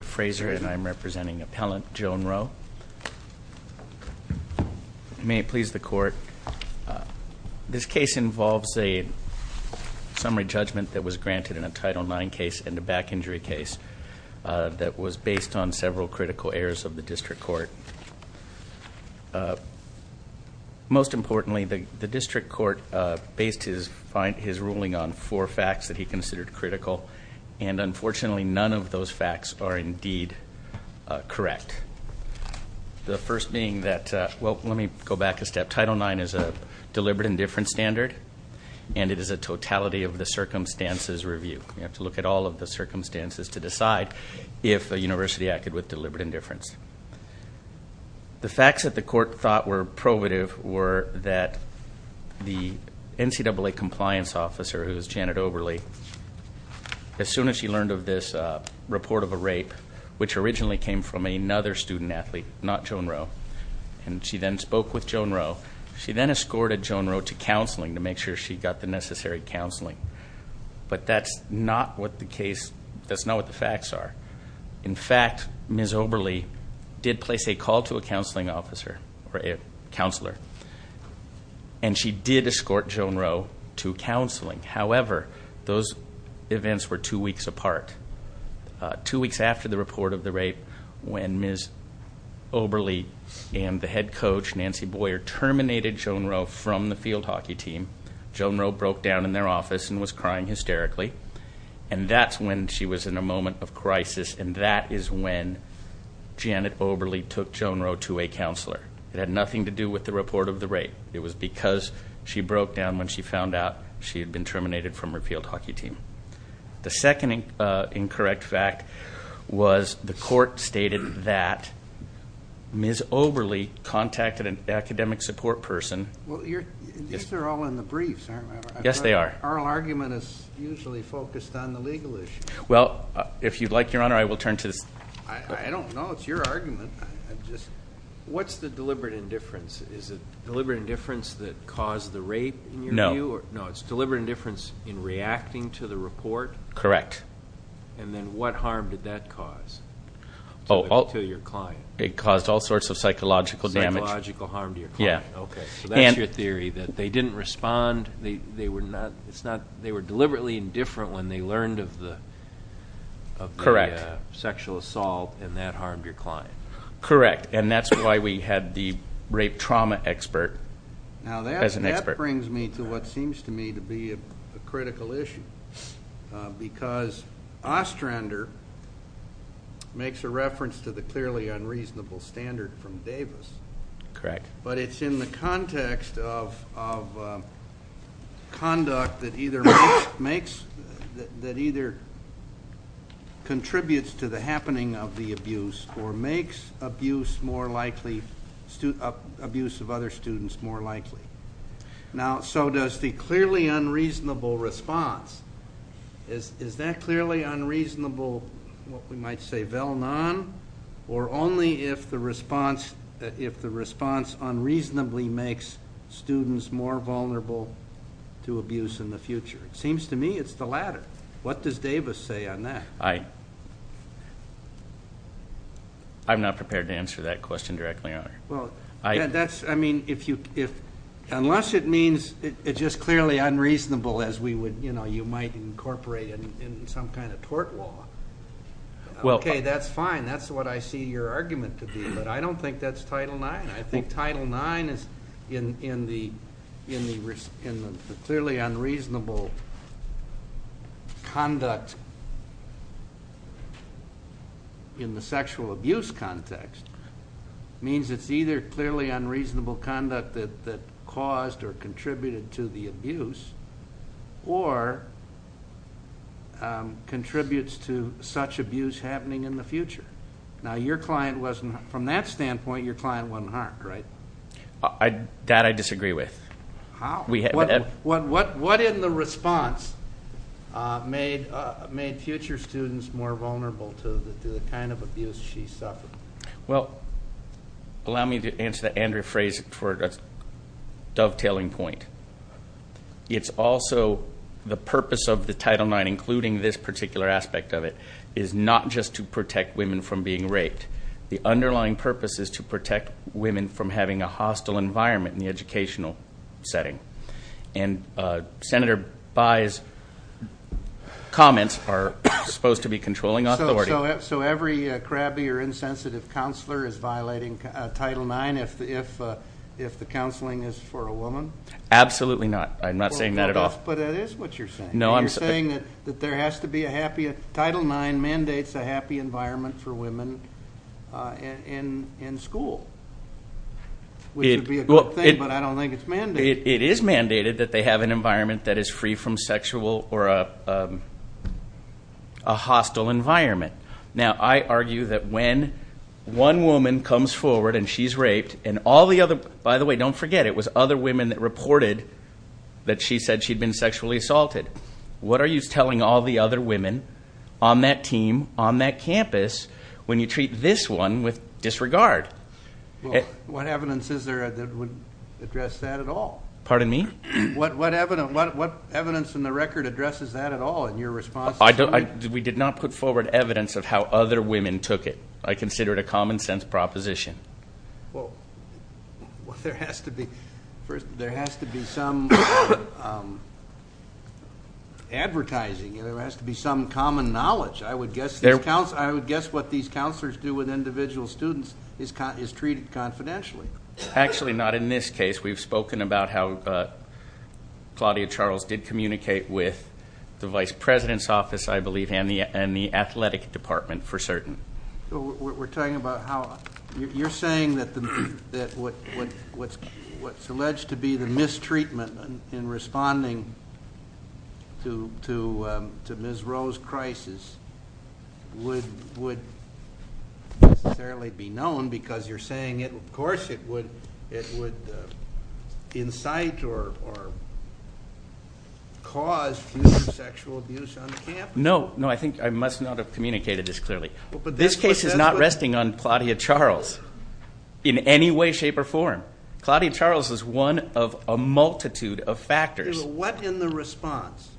Frazier and I'm representing appellant Joan Roe. May it please the court, this case involves a summary judgment that was granted in a Title IX case and a back injury case that was based on several critical errors of the district court. Most importantly the district court based his ruling on four facts that he considered critical and unfortunately none of those facts are in deed correct. The first being that, well let me go back a step, Title IX is a deliberate indifference standard and it is a totality of the circumstances review. You have to look at all of the circumstances to decide if the university acted with deliberate indifference. The facts that the court thought were probative were that the NCAA compliance officer who is Janet Oberle, as soon as she learned of this report of a rape which originally came from another student-athlete, not Joan Roe, and she then spoke with Joan Roe, she then escorted Joan Roe to counseling to make sure she got the necessary counseling. But that's not what the case, that's not what the facts are. In fact Ms. Oberle did place a call to a counseling officer or a counselor and she did escort Joan Roe to counseling. However, those events were two weeks apart. Two weeks after the report of the rape when Ms. Oberle and the head coach Nancy Boyer terminated Joan Roe from the field hockey team, Joan Roe broke down in their office and was crying hysterically and that's when she was in a moment of crisis and that is when Janet Oberle took Joan Roe to a counselor. It had been two weeks since she broke down when she found out she had been terminated from her field hockey team. The second incorrect fact was the court stated that Ms. Oberle contacted an academic support person. These are all in the briefs, aren't they? Yes, they are. Our argument is usually focused on the legal issue. Well, if you'd like, Your Honor, I will turn to this. I don't know, it's your argument. What's the deliberate indifference that caused the rape in your view? No. No, it's deliberate indifference in reacting to the report? Correct. And then what harm did that cause to your client? It caused all sorts of psychological damage. Psychological harm to your client. Yeah. Okay, so that's your theory that they didn't respond, they were not, it's not, they were deliberately indifferent when they learned of the sexual assault and that harmed your client. Correct, and that's why we had the trauma expert as an expert. Now that brings me to what seems to me to be a critical issue because Ostrander makes a reference to the clearly unreasonable standard from Davis. Correct. But it's in the context of conduct that either contributes to the happening of the abuse or makes abuse more likely, abuse of other students more likely. Now, so does the clearly unreasonable response, is that clearly unreasonable, what we might say, vel non, or only if the response unreasonably makes students more vulnerable to abuse in the future? It seems to me it's the latter. What does answer that question directly, Your Honor? Unless it means it's just clearly unreasonable as you might incorporate in some kind of tort law. Okay, that's fine, that's what I see your argument to be, but I don't think that's Title IX. I think Title IX is in the clearly unreasonable conduct in the sexual abuse context. It means it's either clearly unreasonable conduct that caused or contributed to the abuse or contributes to such abuse happening in the future. Now, from that standpoint, your client wasn't harmed, right? That I disagree with. How? What in the response made future students more vulnerable to the kind of abuse she suffered? Well, allow me to answer that and rephrase it for a dovetailing point. It's also the purpose of the Title IX, including this particular aspect of it, is not just to protect women from being raped. The underlying purpose is to protect women from having a hostile environment in the educational setting. And Senator Bayh's comments are supposed to be controlling authority. So every crabby or insensitive counselor is violating Title IX if the counseling is for a woman? Absolutely not. I'm not saying that at all. But that is what you're saying. You're saying that there has to be a happy, Title IX mandates a happy environment for women in school, which would be a good thing, but I don't think it's mandated. It is mandated that they have an environment that is free from sexual or a hostile environment. Now, I argue that when one woman comes forward and she's raped, and all the other, by the way, don't forget, it was other women that reported that she said she'd been sexually assaulted. What are you telling all the other women on that team, on that campus, when you treat this one with disregard? What evidence is there that would address that at all? Pardon me? What evidence in the record addresses that at all in your response? We did not put forward evidence of how other women took it. I consider it a common sense proposition. Well, there has to be some advertising. There has to be some common knowledge. I would guess what these counselors do with individual students is treated confidentially. Actually, not in this case. We've spoken about how Claudia Charles did communicate with the vice president's office, I believe, and the athletic department for certain. We're talking about how you're saying that what's alleged to be the mistreatment in responding to Ms. Rowe's crisis would necessarily be known because you're saying that it would incite or cause future sexual abuse on the campus. No, I think I must not have communicated this clearly. This case is not resting on Claudia Charles in any way, shape, or form. Claudia Charles is one of a multitude of factors. What in the response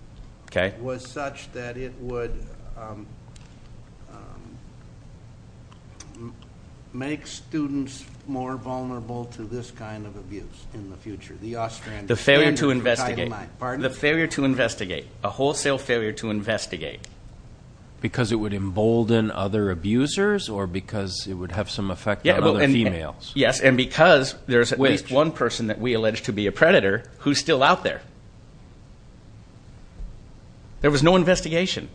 was such that it would make students more The failure to investigate. The failure to investigate. A wholesale failure to investigate. Because it would embolden other abusers or because it would have some effect on other females? Yes, and because there's at least one person that we allege to be a predator who's still out there. There was no investigation.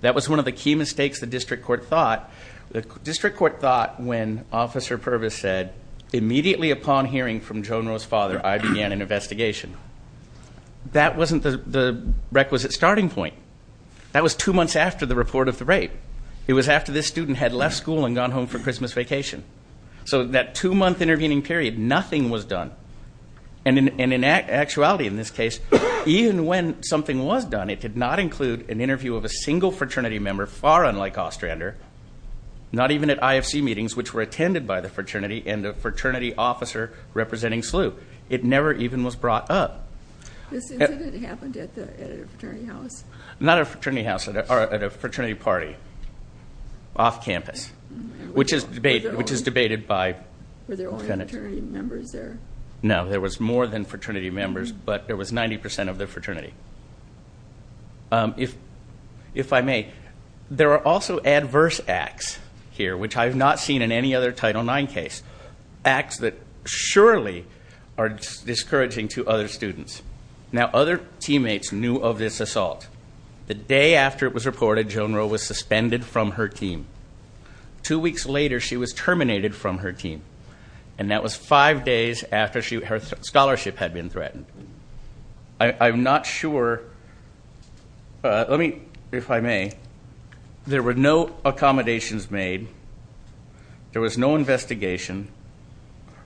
That was one of the key mistakes the district court thought. The district court thought when Officer Purvis said, immediately upon hearing from Joan Rowe's father, I began an investigation. That wasn't the requisite starting point. That was two months after the report of the rape. It was after this student had left school and gone home for Christmas vacation. So that two-month intervening period, nothing was done. And in actuality in this case, even when something was done, it did not include an interview of a single fraternity member, far unlike Ostrander. Not even at IFC meetings, which were attended by the fraternity and the fraternity officer representing SLU. It never even was brought up. This incident happened at a fraternity house? Not a fraternity house, at a fraternity party off campus, which is debated by Were there only fraternity members there? No, there was more than fraternity members, but there was 90% of the fraternity. If I may, there are also adverse acts here, which I have not seen in any other Title IX case. Acts that surely are discouraging to other students. Now other teammates knew of this assault. The day after it was reported, Joan Rowe was suspended from her team. Two weeks later, she was terminated from her team. And that was five days after her scholarship had been threatened. I'm not sure. Let me, if I may, there were no accommodations made. There was no investigation.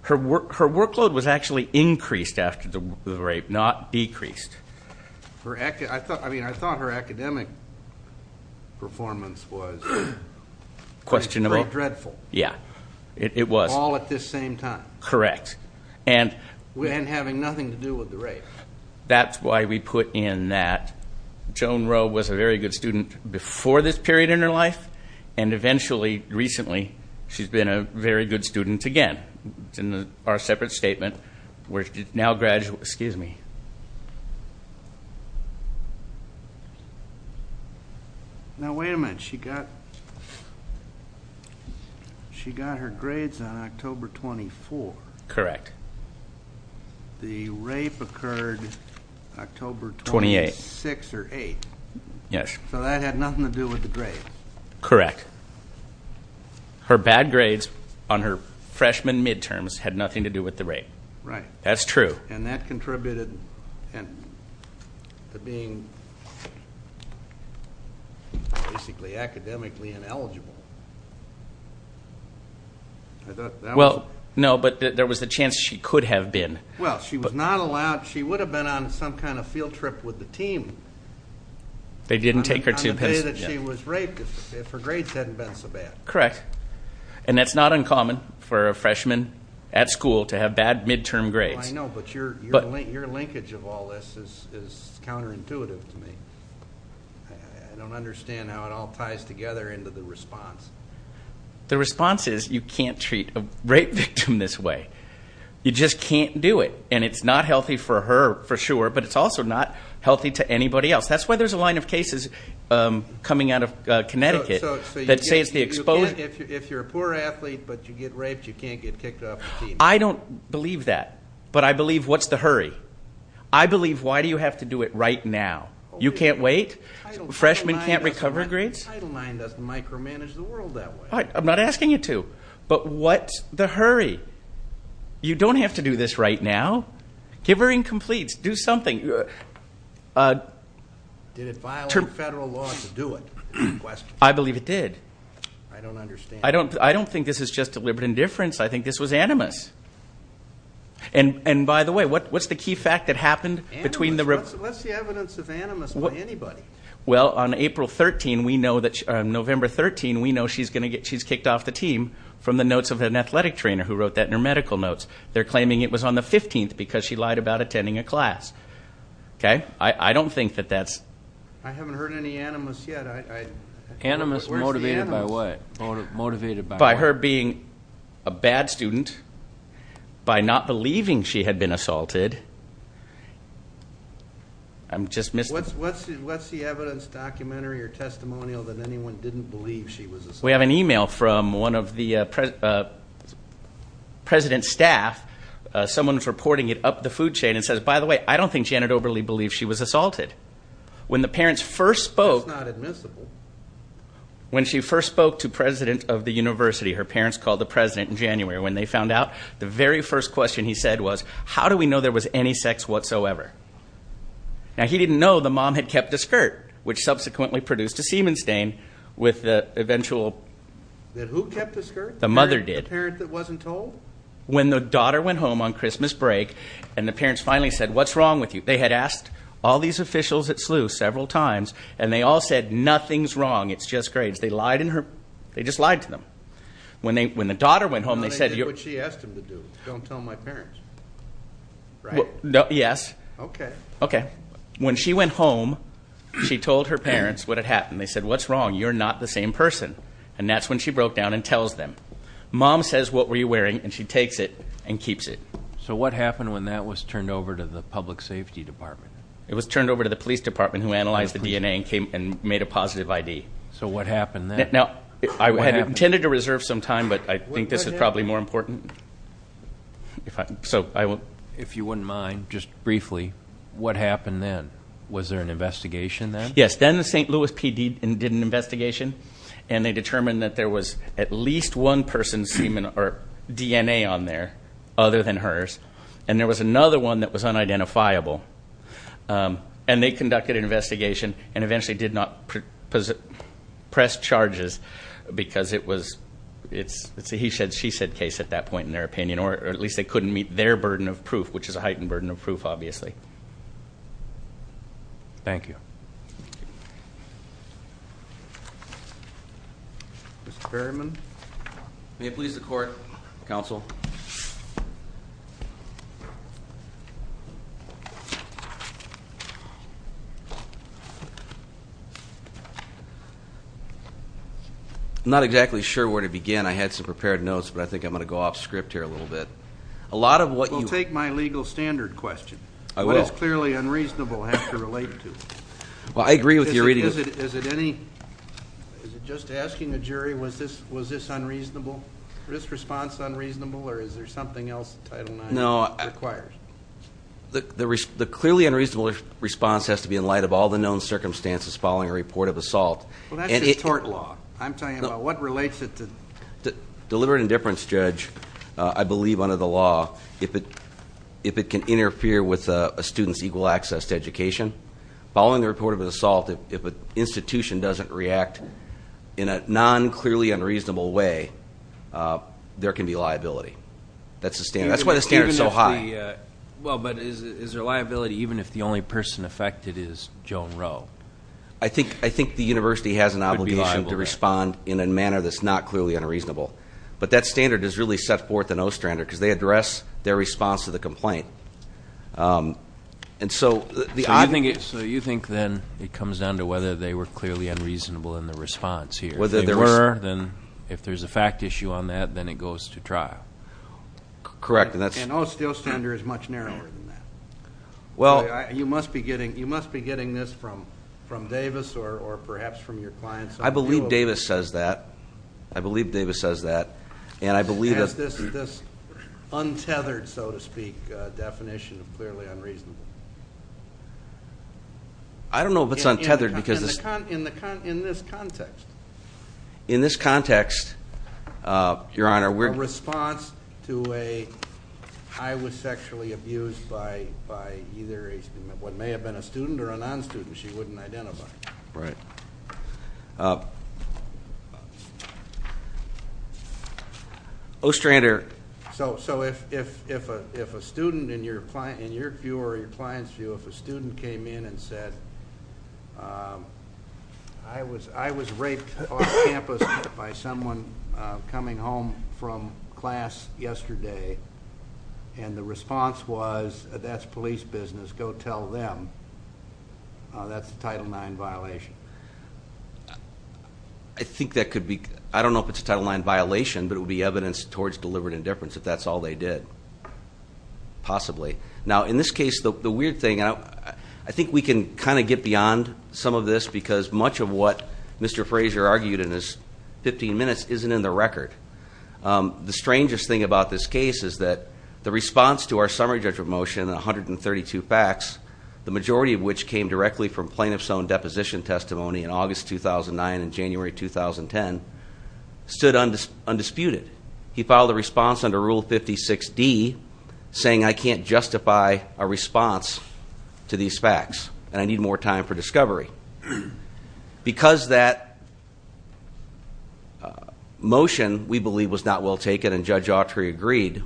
Her workload was actually increased after the rape, not decreased. I mean, I thought her academic performance was Questionable. Dreadful. Yeah, it was. All at this same time. Correct. And having nothing to do with the rape. That's why we put in that Joan Rowe was a very good student before this period in her life, and eventually, recently, she's been a very good student again. It's in our separate statement. Excuse me. Now, wait a minute. She got her grades on October 24th. Correct. The rape occurred October 26th or 28th. Yes. So that had nothing to do with the grades. Correct. Her bad grades on her freshman midterms had nothing to do with the rape. Right. That's true. And that contributed to being basically academically ineligible. Well, no, but there was a chance she could have been. Well, she was not allowed. She would have been on some kind of field trip with the team. They didn't take her to Pennsylvania. On the day that she was raped, if her grades hadn't been so bad. Correct. And that's not uncommon for a freshman at school to have bad midterm grades. I know, but your linkage of all this is counterintuitive to me. I don't understand how it all ties together into the response. The response is you can't treat a rape victim this way. You just can't do it. And it's not healthy for her, for sure, but it's also not healthy to anybody else. That's why there's a line of cases coming out of Connecticut that say it's the exposure. If you're a poor athlete but you get raped, you can't get kicked off the team. I don't believe that, but I believe what's the hurry? I believe why do you have to do it right now? You can't wait? Freshman can't recover grades? Title IX doesn't micromanage the world that way. I'm not asking you to, but what's the hurry? You don't have to do this right now. Give her incompletes. Do something. Did it violate federal law to do it? I believe it did. I don't understand. I don't think this is just deliberate indifference. I think this was animus. And, by the way, what's the key fact that happened between the rape? What's the evidence of animus by anybody? Well, on April 13, we know that she's kicked off the team from the notes of an athletic trainer who wrote that in her medical notes. They're claiming it was on the 15th because she lied about attending a class. I don't think that that's. I haven't heard any animus yet. Animus motivated by what? Motivated by what? By her being a bad student, by not believing she had been assaulted. I'm just missing. What's the evidence, documentary or testimonial, that anyone didn't believe she was assaulted? We have an e-mail from one of the president's staff. Someone's reporting it up the food chain and says, by the way, I don't think Janet Oberle believed she was assaulted. When the parents first spoke. That's not admissible. When she first spoke to president of the university, her parents called the president in January. When they found out, the very first question he said was, how do we know there was any sex whatsoever? Now, he didn't know the mom had kept a skirt, which subsequently produced a semen stain with the eventual. Who kept the skirt? The mother did. The parent that wasn't told? When the daughter went home on Christmas break and the parents finally said, what's wrong with you? They had asked all these officials at SLU several times, and they all said, nothing's wrong, it's just grades. They lied in her, they just lied to them. When the daughter went home, they said. I did what she asked them to do. Don't tell my parents. Right? Yes. Okay. Okay. When she went home, she told her parents what had happened. They said, what's wrong? You're not the same person. And that's when she broke down and tells them. Mom says, what were you wearing? And she takes it and keeps it. So what happened when that was turned over to the public safety department? It was turned over to the police department, who analyzed the DNA and made a positive ID. So what happened then? Now, I intended to reserve some time, but I think this is probably more important. If you wouldn't mind, just briefly, what happened then? Was there an investigation then? Yes. Then the St. Louis PD did an investigation, and they determined that there was at least one person's DNA on there, other than hers, and there was another one that was unidentifiable. And they conducted an investigation and eventually did not press charges because it was a he said, she said case at that point, in their opinion, or at least they couldn't meet their burden of proof, which is a heightened burden of proof, obviously. Thank you. Mr. Berryman? May it please the Court, Counsel? I'm not exactly sure where to begin. I had some prepared notes, but I think I'm going to go off script here a little bit. We'll take my legal standard question. What does clearly unreasonable have to relate to? Well, I agree with your reading. Is it just asking the jury was this unreasonable, was this response unreasonable, or is there something else that Title IX requires? No. The clearly unreasonable response has to be in light of all the known circumstances following a report of assault. Well, that's just tort law. I'm talking about what relates it to. Deliberate indifference, Judge, I believe under the law, if it can interfere with a student's equal access to education. Following the report of an assault, if an institution doesn't react in a non-clearly unreasonable way, there can be liability. That's the standard. That's why the standard is so high. Well, but is there liability even if the only person affected is Joan Rowe? I think the university has an obligation to respond in a manner that's not clearly unreasonable. But that standard is really set forth in Ostrander because they address their response to the complaint. So you think then it comes down to whether they were clearly unreasonable in the response here. Whether there were. If there's a fact issue on that, then it goes to trial. Correct. And Ostrander is much narrower than that. You must be getting this from Davis or perhaps from your clients. I believe Davis says that. I believe Davis says that. This untethered, so to speak, definition of clearly unreasonable. I don't know if it's untethered. In this context. In this context, Your Honor. A response to a I was sexually abused by either what may have been a student or a non-student she wouldn't identify. Right. Ostrander. So if a student in your view or your client's view, if a student came in and said, I was raped off campus by someone coming home from class yesterday. And the response was, that's police business, go tell them. That's a Title IX violation. I think that could be, I don't know if it's a Title IX violation, but it would be evidence towards deliberate indifference if that's all they did. Possibly. Now, in this case, the weird thing, I think we can kind of get beyond some of this because much of what Mr. Frazier argued in his 15 minutes isn't in the record. The strangest thing about this case is that the response to our summary judgment motion, 132 facts, the majority of which came directly from plaintiff's own deposition testimony in August 2009 and January 2010, stood undisputed. He filed a response under Rule 56D saying I can't justify a response to these facts and I need more time for discovery. Because that motion, we believe, was not well taken and Judge Autry agreed.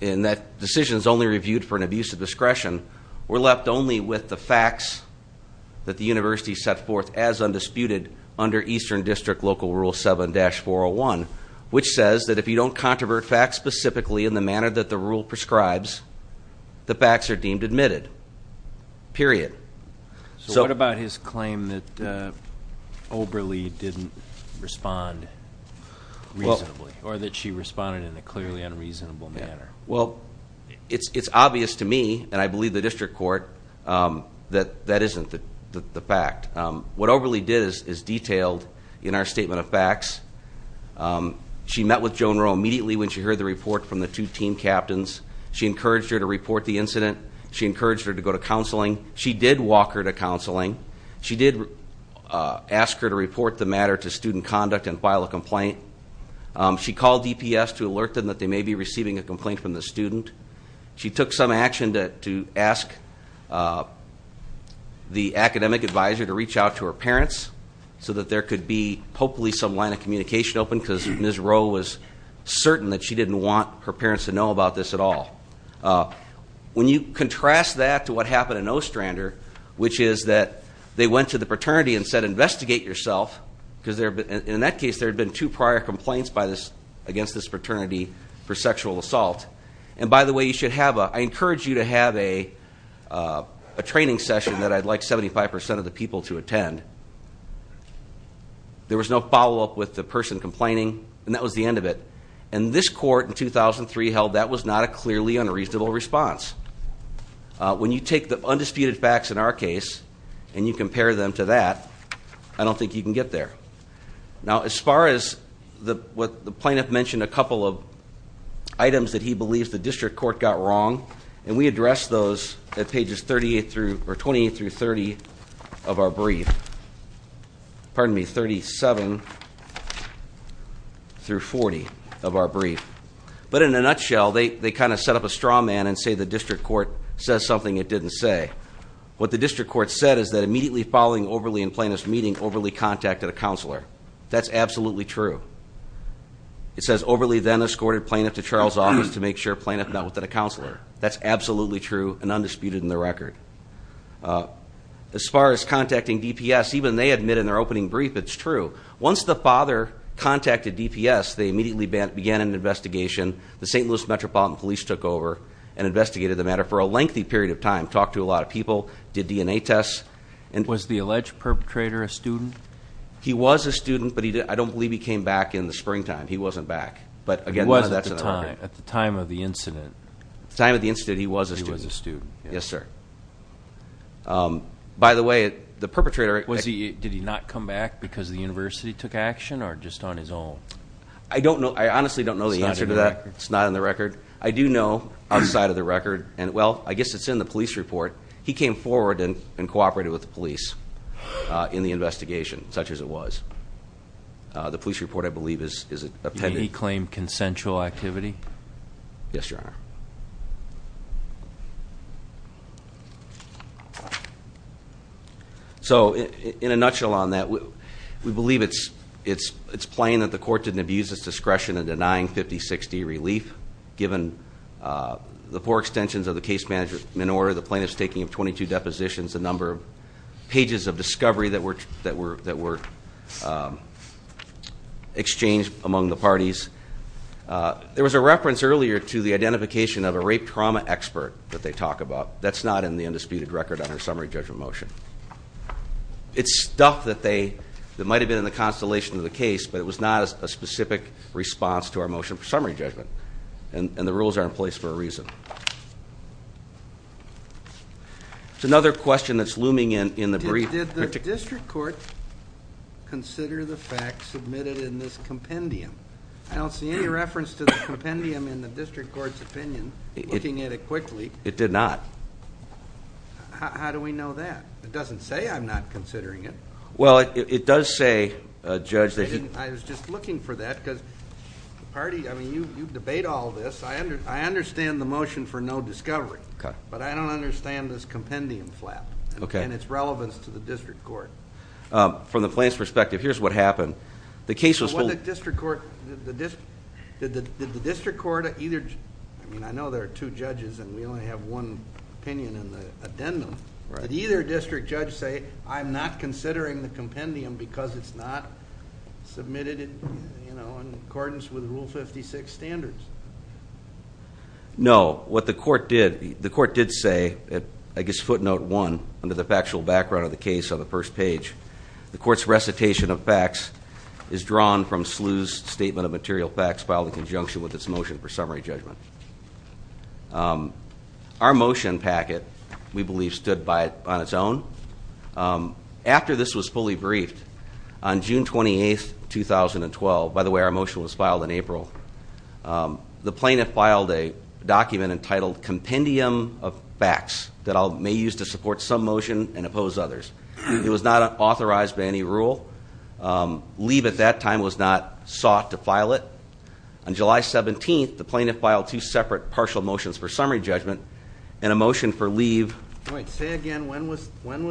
And that decision's only reviewed for an abuse of discretion. We're left only with the facts that the university set forth as undisputed under Eastern District Local Rule 7-401, which says that if you don't controvert facts specifically in the manner that the rule prescribes, the facts are deemed admitted. Period. So what about his claim that Oberle didn't respond reasonably, or that she responded in a clearly unreasonable manner? Well, it's obvious to me, and I believe the district court, that that isn't the fact. What Oberle did is detailed in our statement of facts. She met with Joan Rowe immediately when she heard the report from the two team captains. She encouraged her to report the incident. She encouraged her to go to counseling. She did walk her to counseling. She did ask her to report the matter to student conduct and file a complaint. She called DPS to alert them that they may be receiving a complaint from the student. She took some action to ask the academic advisor to reach out to her parents, so that there could be hopefully some line of communication open, because Ms. Rowe was certain that she didn't want her parents to know about this at all. When you contrast that to what happened in Ostrander, which is that they went to the fraternity and said, investigate yourself, because in that case there had been two prior complaints against this fraternity for sexual assault. And by the way, I encourage you to have a training session that I'd like 75% of the people to attend. There was no follow-up with the person complaining, and that was the end of it. And this court in 2003 held that was not a clearly unreasonable response. When you take the undisputed facts in our case, and you compare them to that, I don't think you can get there. Now, as far as what the plaintiff mentioned a couple of items that he believes the district court got wrong, and we addressed those at pages 28 through 30 of our brief. Pardon me, 37 through 40 of our brief. But in a nutshell, they kind of set up a straw man and say the district court says something it didn't say. What the district court said is that immediately following Overly and Plaintiff's meeting, Overly contacted a counselor. That's absolutely true. It says Overly then escorted Plaintiff to Charles' office to make sure Plaintiff met with a counselor. That's absolutely true and undisputed in the record. As far as contacting DPS, even they admit in their opening brief, it's true. Once the father contacted DPS, they immediately began an investigation. The St. Louis Metropolitan Police took over and investigated the matter for a lengthy period of time, talked to a lot of people, did DNA tests. And- Was the alleged perpetrator a student? He was a student, but I don't believe he came back in the springtime. He wasn't back, but again- He was at the time, at the time of the incident. At the time of the incident, he was a student. He was a student, yes. Yes, sir. By the way, the perpetrator- Did he not come back because the university took action, or just on his own? I honestly don't know the answer to that. It's not in the record. I do know, outside of the record, and well, I guess it's in the police report. He came forward and cooperated with the police in the investigation, such as it was. The police report, I believe, is appended. Did he claim consensual activity? Yes, your honor. So, in a nutshell on that, we believe it's plain that the court didn't abuse its discretion in denying 50-60 relief. Given the poor extensions of the case management order, the plaintiff's taking of 22 depositions, a number of pages of discovery that were exchanged among the parties. There was a reference earlier to the identification of a rape trauma expert that they talk about. That's not in the undisputed record on our summary judgment motion. It's stuff that might have been in the constellation of the case, but it was not a specific response to our motion for summary judgment. And the rules are in place for a reason. It's another question that's looming in the brief. Did the district court consider the facts submitted in this compendium? I don't see any reference to the compendium in the district court's opinion, looking at it quickly. It did not. How do we know that? It doesn't say I'm not considering it. Well, it does say, Judge, that he- I was just looking for that, because the party, I mean, you debate all this. I understand the motion for no discovery, but I don't understand this compendium flap and its relevance to the district court. From the plaintiff's perspective, here's what happened. The case was- What did the district court, did the district court either, I mean, I know there are two judges and we only have one opinion in the addendum. Did either district judge say, I'm not considering the compendium because it's not submitted in accordance with Rule 56 standards? No, what the court did, the court did say, I guess footnote one, under the factual background of the case on the first page. The court's recitation of facts is drawn from SLU's statement of material facts filed in conjunction with its motion for summary judgment. Our motion packet, we believe, stood by it on its own. After this was fully briefed, on June 28th, 2012, by the way, our motion was filed in April. The plaintiff filed a document entitled Compendium of Facts that I may use to support some motion and oppose others. It was not authorized by any rule. Leave at that time was not sought to file it. On July 17th, the plaintiff filed two separate partial motions for summary judgment and a motion for leave. All right, say again, when was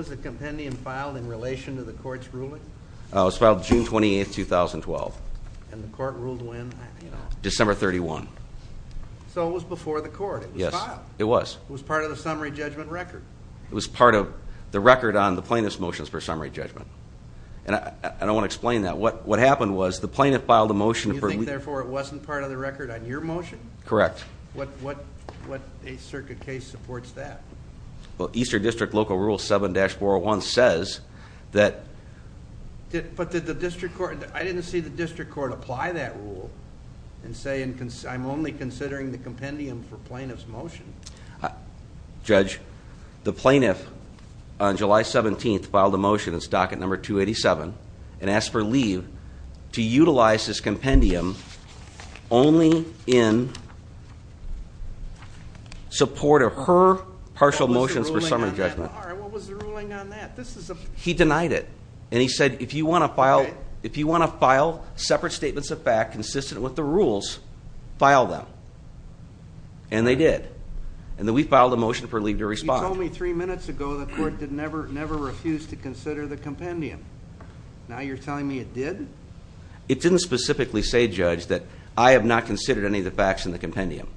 the compendium filed in relation to the court's ruling? It was filed June 28th, 2012. And the court ruled when? December 31. So it was before the court, it was filed. It was. It was part of the summary judgment record. It was part of the record on the plaintiff's motions for summary judgment. And I don't want to explain that. What happened was, the plaintiff filed a motion. And you think, therefore, it wasn't part of the record on your motion? Correct. What a circuit case supports that? Well, Eastern District Local Rule 7-401 says that. But did the district court, I didn't see the district court apply that rule and say I'm only considering the compendium for plaintiff's motion. Judge, the plaintiff on July 17th filed a motion in stock at number 287 and asked for leave to utilize this compendium only in support of her partial motions for summary judgment. All right, what was the ruling on that? He denied it. And he said, if you want to file separate statements of fact consistent with the rules, file them. And they did. And then we filed a motion for leave to respond. You told me three minutes ago the court never refused to consider the compendium. Now you're telling me it did? It didn't specifically say, Judge, that I have not considered any of the facts in the compendium.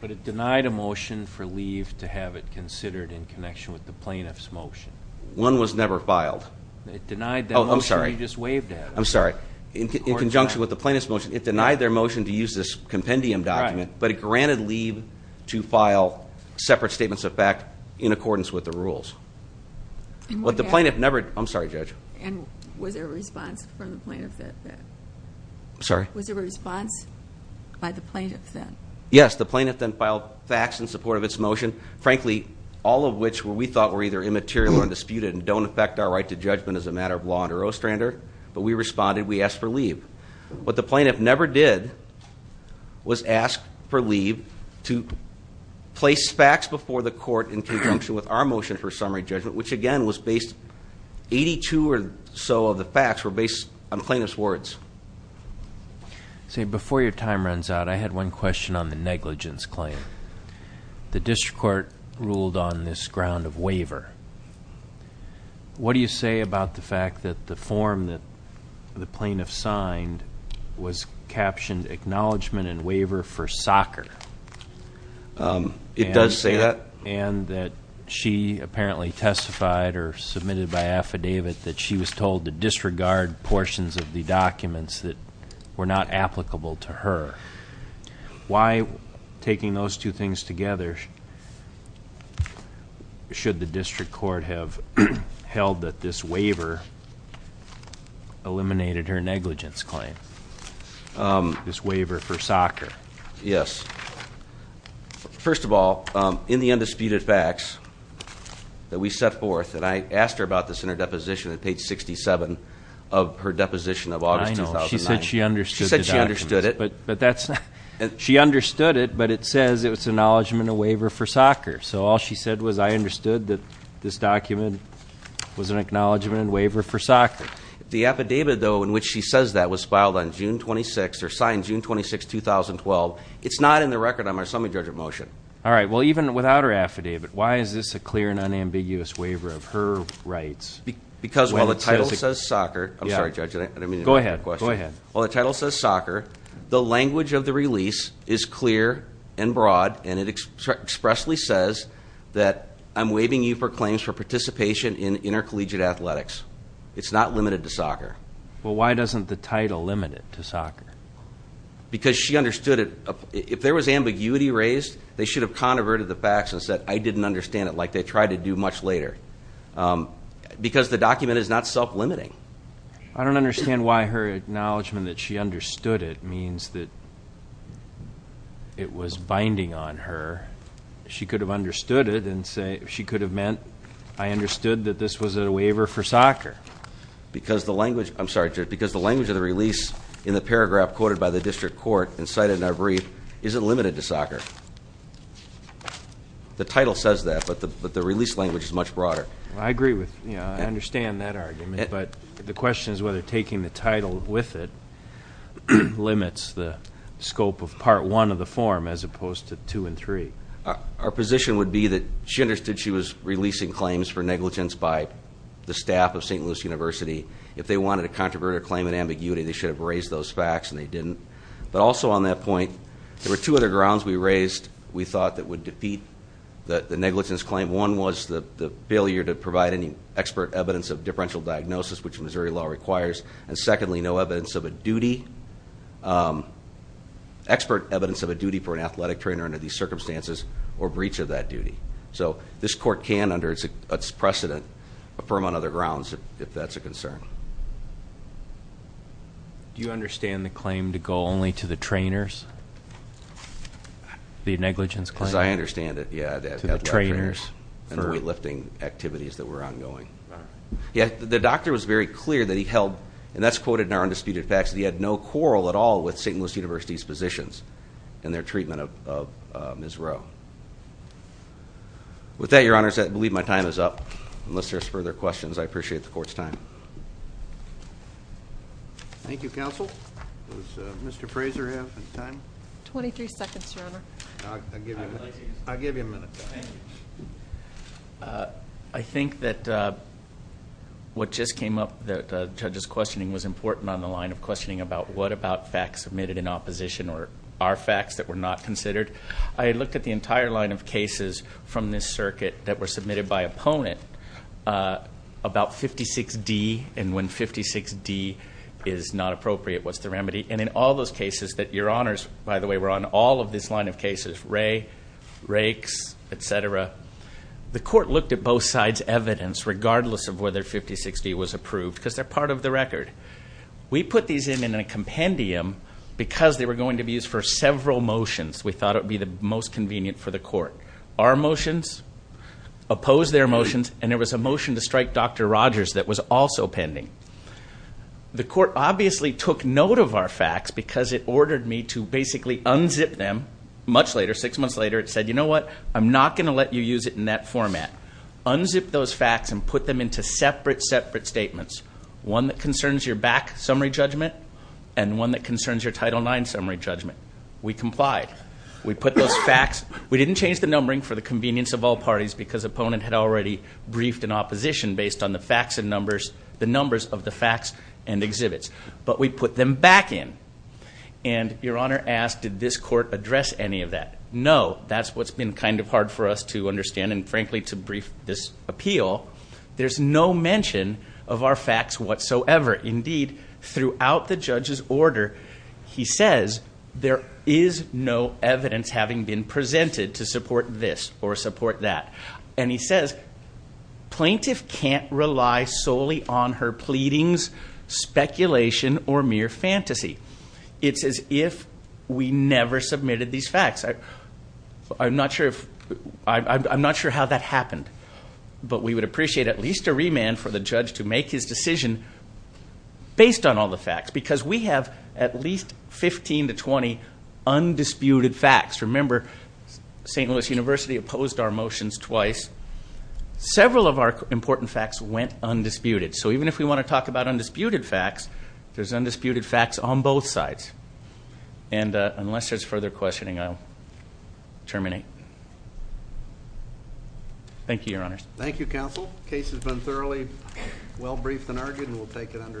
But it denied a motion for leave to have it considered in connection with the plaintiff's motion. One was never filed. It denied that motion you just waved at. I'm sorry. In conjunction with the plaintiff's motion, it denied their motion to use this compendium document. But it granted leave to file separate statements of fact in accordance with the rules. What the plaintiff never, I'm sorry, Judge. And was there a response from the plaintiff that? Sorry? Was there a response by the plaintiff then? Yes, the plaintiff then filed facts in support of its motion. Frankly, all of which we thought were either immaterial or undisputed and don't affect our right to judgment as a matter of law under Ostrander. But we responded, we asked for leave. What the plaintiff never did was ask for leave to place facts before the court in conjunction with our motion for summary judgment. Which again was based, 82 or so of the facts were based on plaintiff's words. See, before your time runs out, I had one question on the negligence claim. The district court ruled on this ground of waiver. What do you say about the fact that the form that the plaintiff signed was captioned acknowledgment and waiver for soccer? It does say that. And that she apparently testified or submitted by affidavit that she was told to disregard portions of the documents that were not applicable to her. Why, taking those two things together, should the district court have held that this waiver eliminated her negligence claim, this waiver for soccer? Yes, first of all, in the undisputed facts that we set forth, and I asked her about this in her deposition at page 67 of her deposition of August 2009. I know, she said she understood the documents. She said she understood it. She understood it, but it says it was acknowledgment and waiver for soccer. So all she said was I understood that this document was an acknowledgment and waiver for soccer. The affidavit though in which she says that was filed on June 26th, or signed June 26th, 2012, it's not in the record on my summary judgment motion. All right, well even without her affidavit, why is this a clear and unambiguous waiver of her rights? Because while the title says soccer, I'm sorry judge, I didn't mean to interrupt your question. Go ahead, go ahead. While the title says soccer, the language of the release is clear and broad, and it expressly says that I'm waiving you for claims for participation in intercollegiate athletics. It's not limited to soccer. Well, why doesn't the title limit it to soccer? Because she understood it, if there was ambiguity raised, they should have converted the facts and said I didn't understand it like they tried to do much later, because the document is not self-limiting. I don't understand why her acknowledgment that she understood it means that it was binding on her. She could have understood it and she could have meant, I understood that this was a waiver for soccer. Because the language, I'm sorry judge, because the language of the release in the paragraph quoted by the district court and cited in our brief isn't limited to soccer. The title says that, but the release language is much broader. I agree with, I understand that argument, but the question is whether taking the title with it limits the scope of part one of the form as opposed to two and three. Our position would be that she understood she was releasing claims for negligence by the staff of St. Louis University. If they wanted a controverted claim in ambiguity, they should have raised those facts and they didn't. But also on that point, there were two other grounds we raised we thought that would defeat the negligence claim. And one was the failure to provide any expert evidence of differential diagnosis, which Missouri law requires. And secondly, no evidence of a duty, expert evidence of a duty for an athletic trainer under these circumstances or breach of that duty. So this court can, under its precedent, affirm on other grounds if that's a concern. Do you understand the claim to go only to the trainers? The negligence claim? As I understand it, yeah, the athletic trainers and the weight lifting activities that were ongoing. Yeah, the doctor was very clear that he held, and that's quoted in our undisputed facts, that he had no quarrel at all with St. Louis University's physicians in their treatment of Ms. Rowe. With that, your honors, I believe my time is up. Unless there's further questions, I appreciate the court's time. Thank you, counsel. Does Mr. Fraser have any time? 23 seconds, your honor. I'll give you a minute. I'll give you a minute. Thank you. I think that what just came up, that the judge's questioning was important on the line of questioning about what about facts submitted in opposition, or are facts that were not considered. I looked at the entire line of cases from this circuit that were submitted by opponent, about 56D, and when 56D is not appropriate, what's the remedy? And in all those cases that your honors, by the way, were on, all of this line of cases, Ray, Rakes, etc. The court looked at both sides' evidence, regardless of whether 5060 was approved, because they're part of the record. We put these in in a compendium because they were going to be used for several motions. We thought it would be the most convenient for the court. Our motions opposed their motions, and there was a motion to strike Dr. Rogers that was also pending. The court obviously took note of our facts, because it ordered me to basically unzip them. Much later, six months later, it said, you know what? I'm not going to let you use it in that format. Unzip those facts and put them into separate, separate statements. One that concerns your back summary judgment, and one that concerns your title nine summary judgment. We complied. We put those facts, we didn't change the numbering for the convenience of all parties, because opponent had already briefed an opposition based on the facts and numbers, the numbers of the facts and exhibits. But we put them back in. And your honor asked, did this court address any of that? No, that's what's been kind of hard for us to understand, and frankly, to brief this appeal. There's no mention of our facts whatsoever. Indeed, throughout the judge's order, he says, there is no evidence having been presented to support this or support that. And he says, plaintiff can't rely solely on her pleadings, speculation, or mere fantasy. It's as if we never submitted these facts. I'm not sure how that happened. But we would appreciate at least a remand for the judge to make his decision based on all the facts. Because we have at least 15 to 20 undisputed facts. Remember, St. Louis University opposed our motions twice. Several of our important facts went undisputed. So even if we want to talk about undisputed facts, there's undisputed facts on both sides. And unless there's further questioning, I'll terminate. Thank you, your honors. Thank you, counsel. Case has been thoroughly well briefed and argued, and we'll take it under advisement.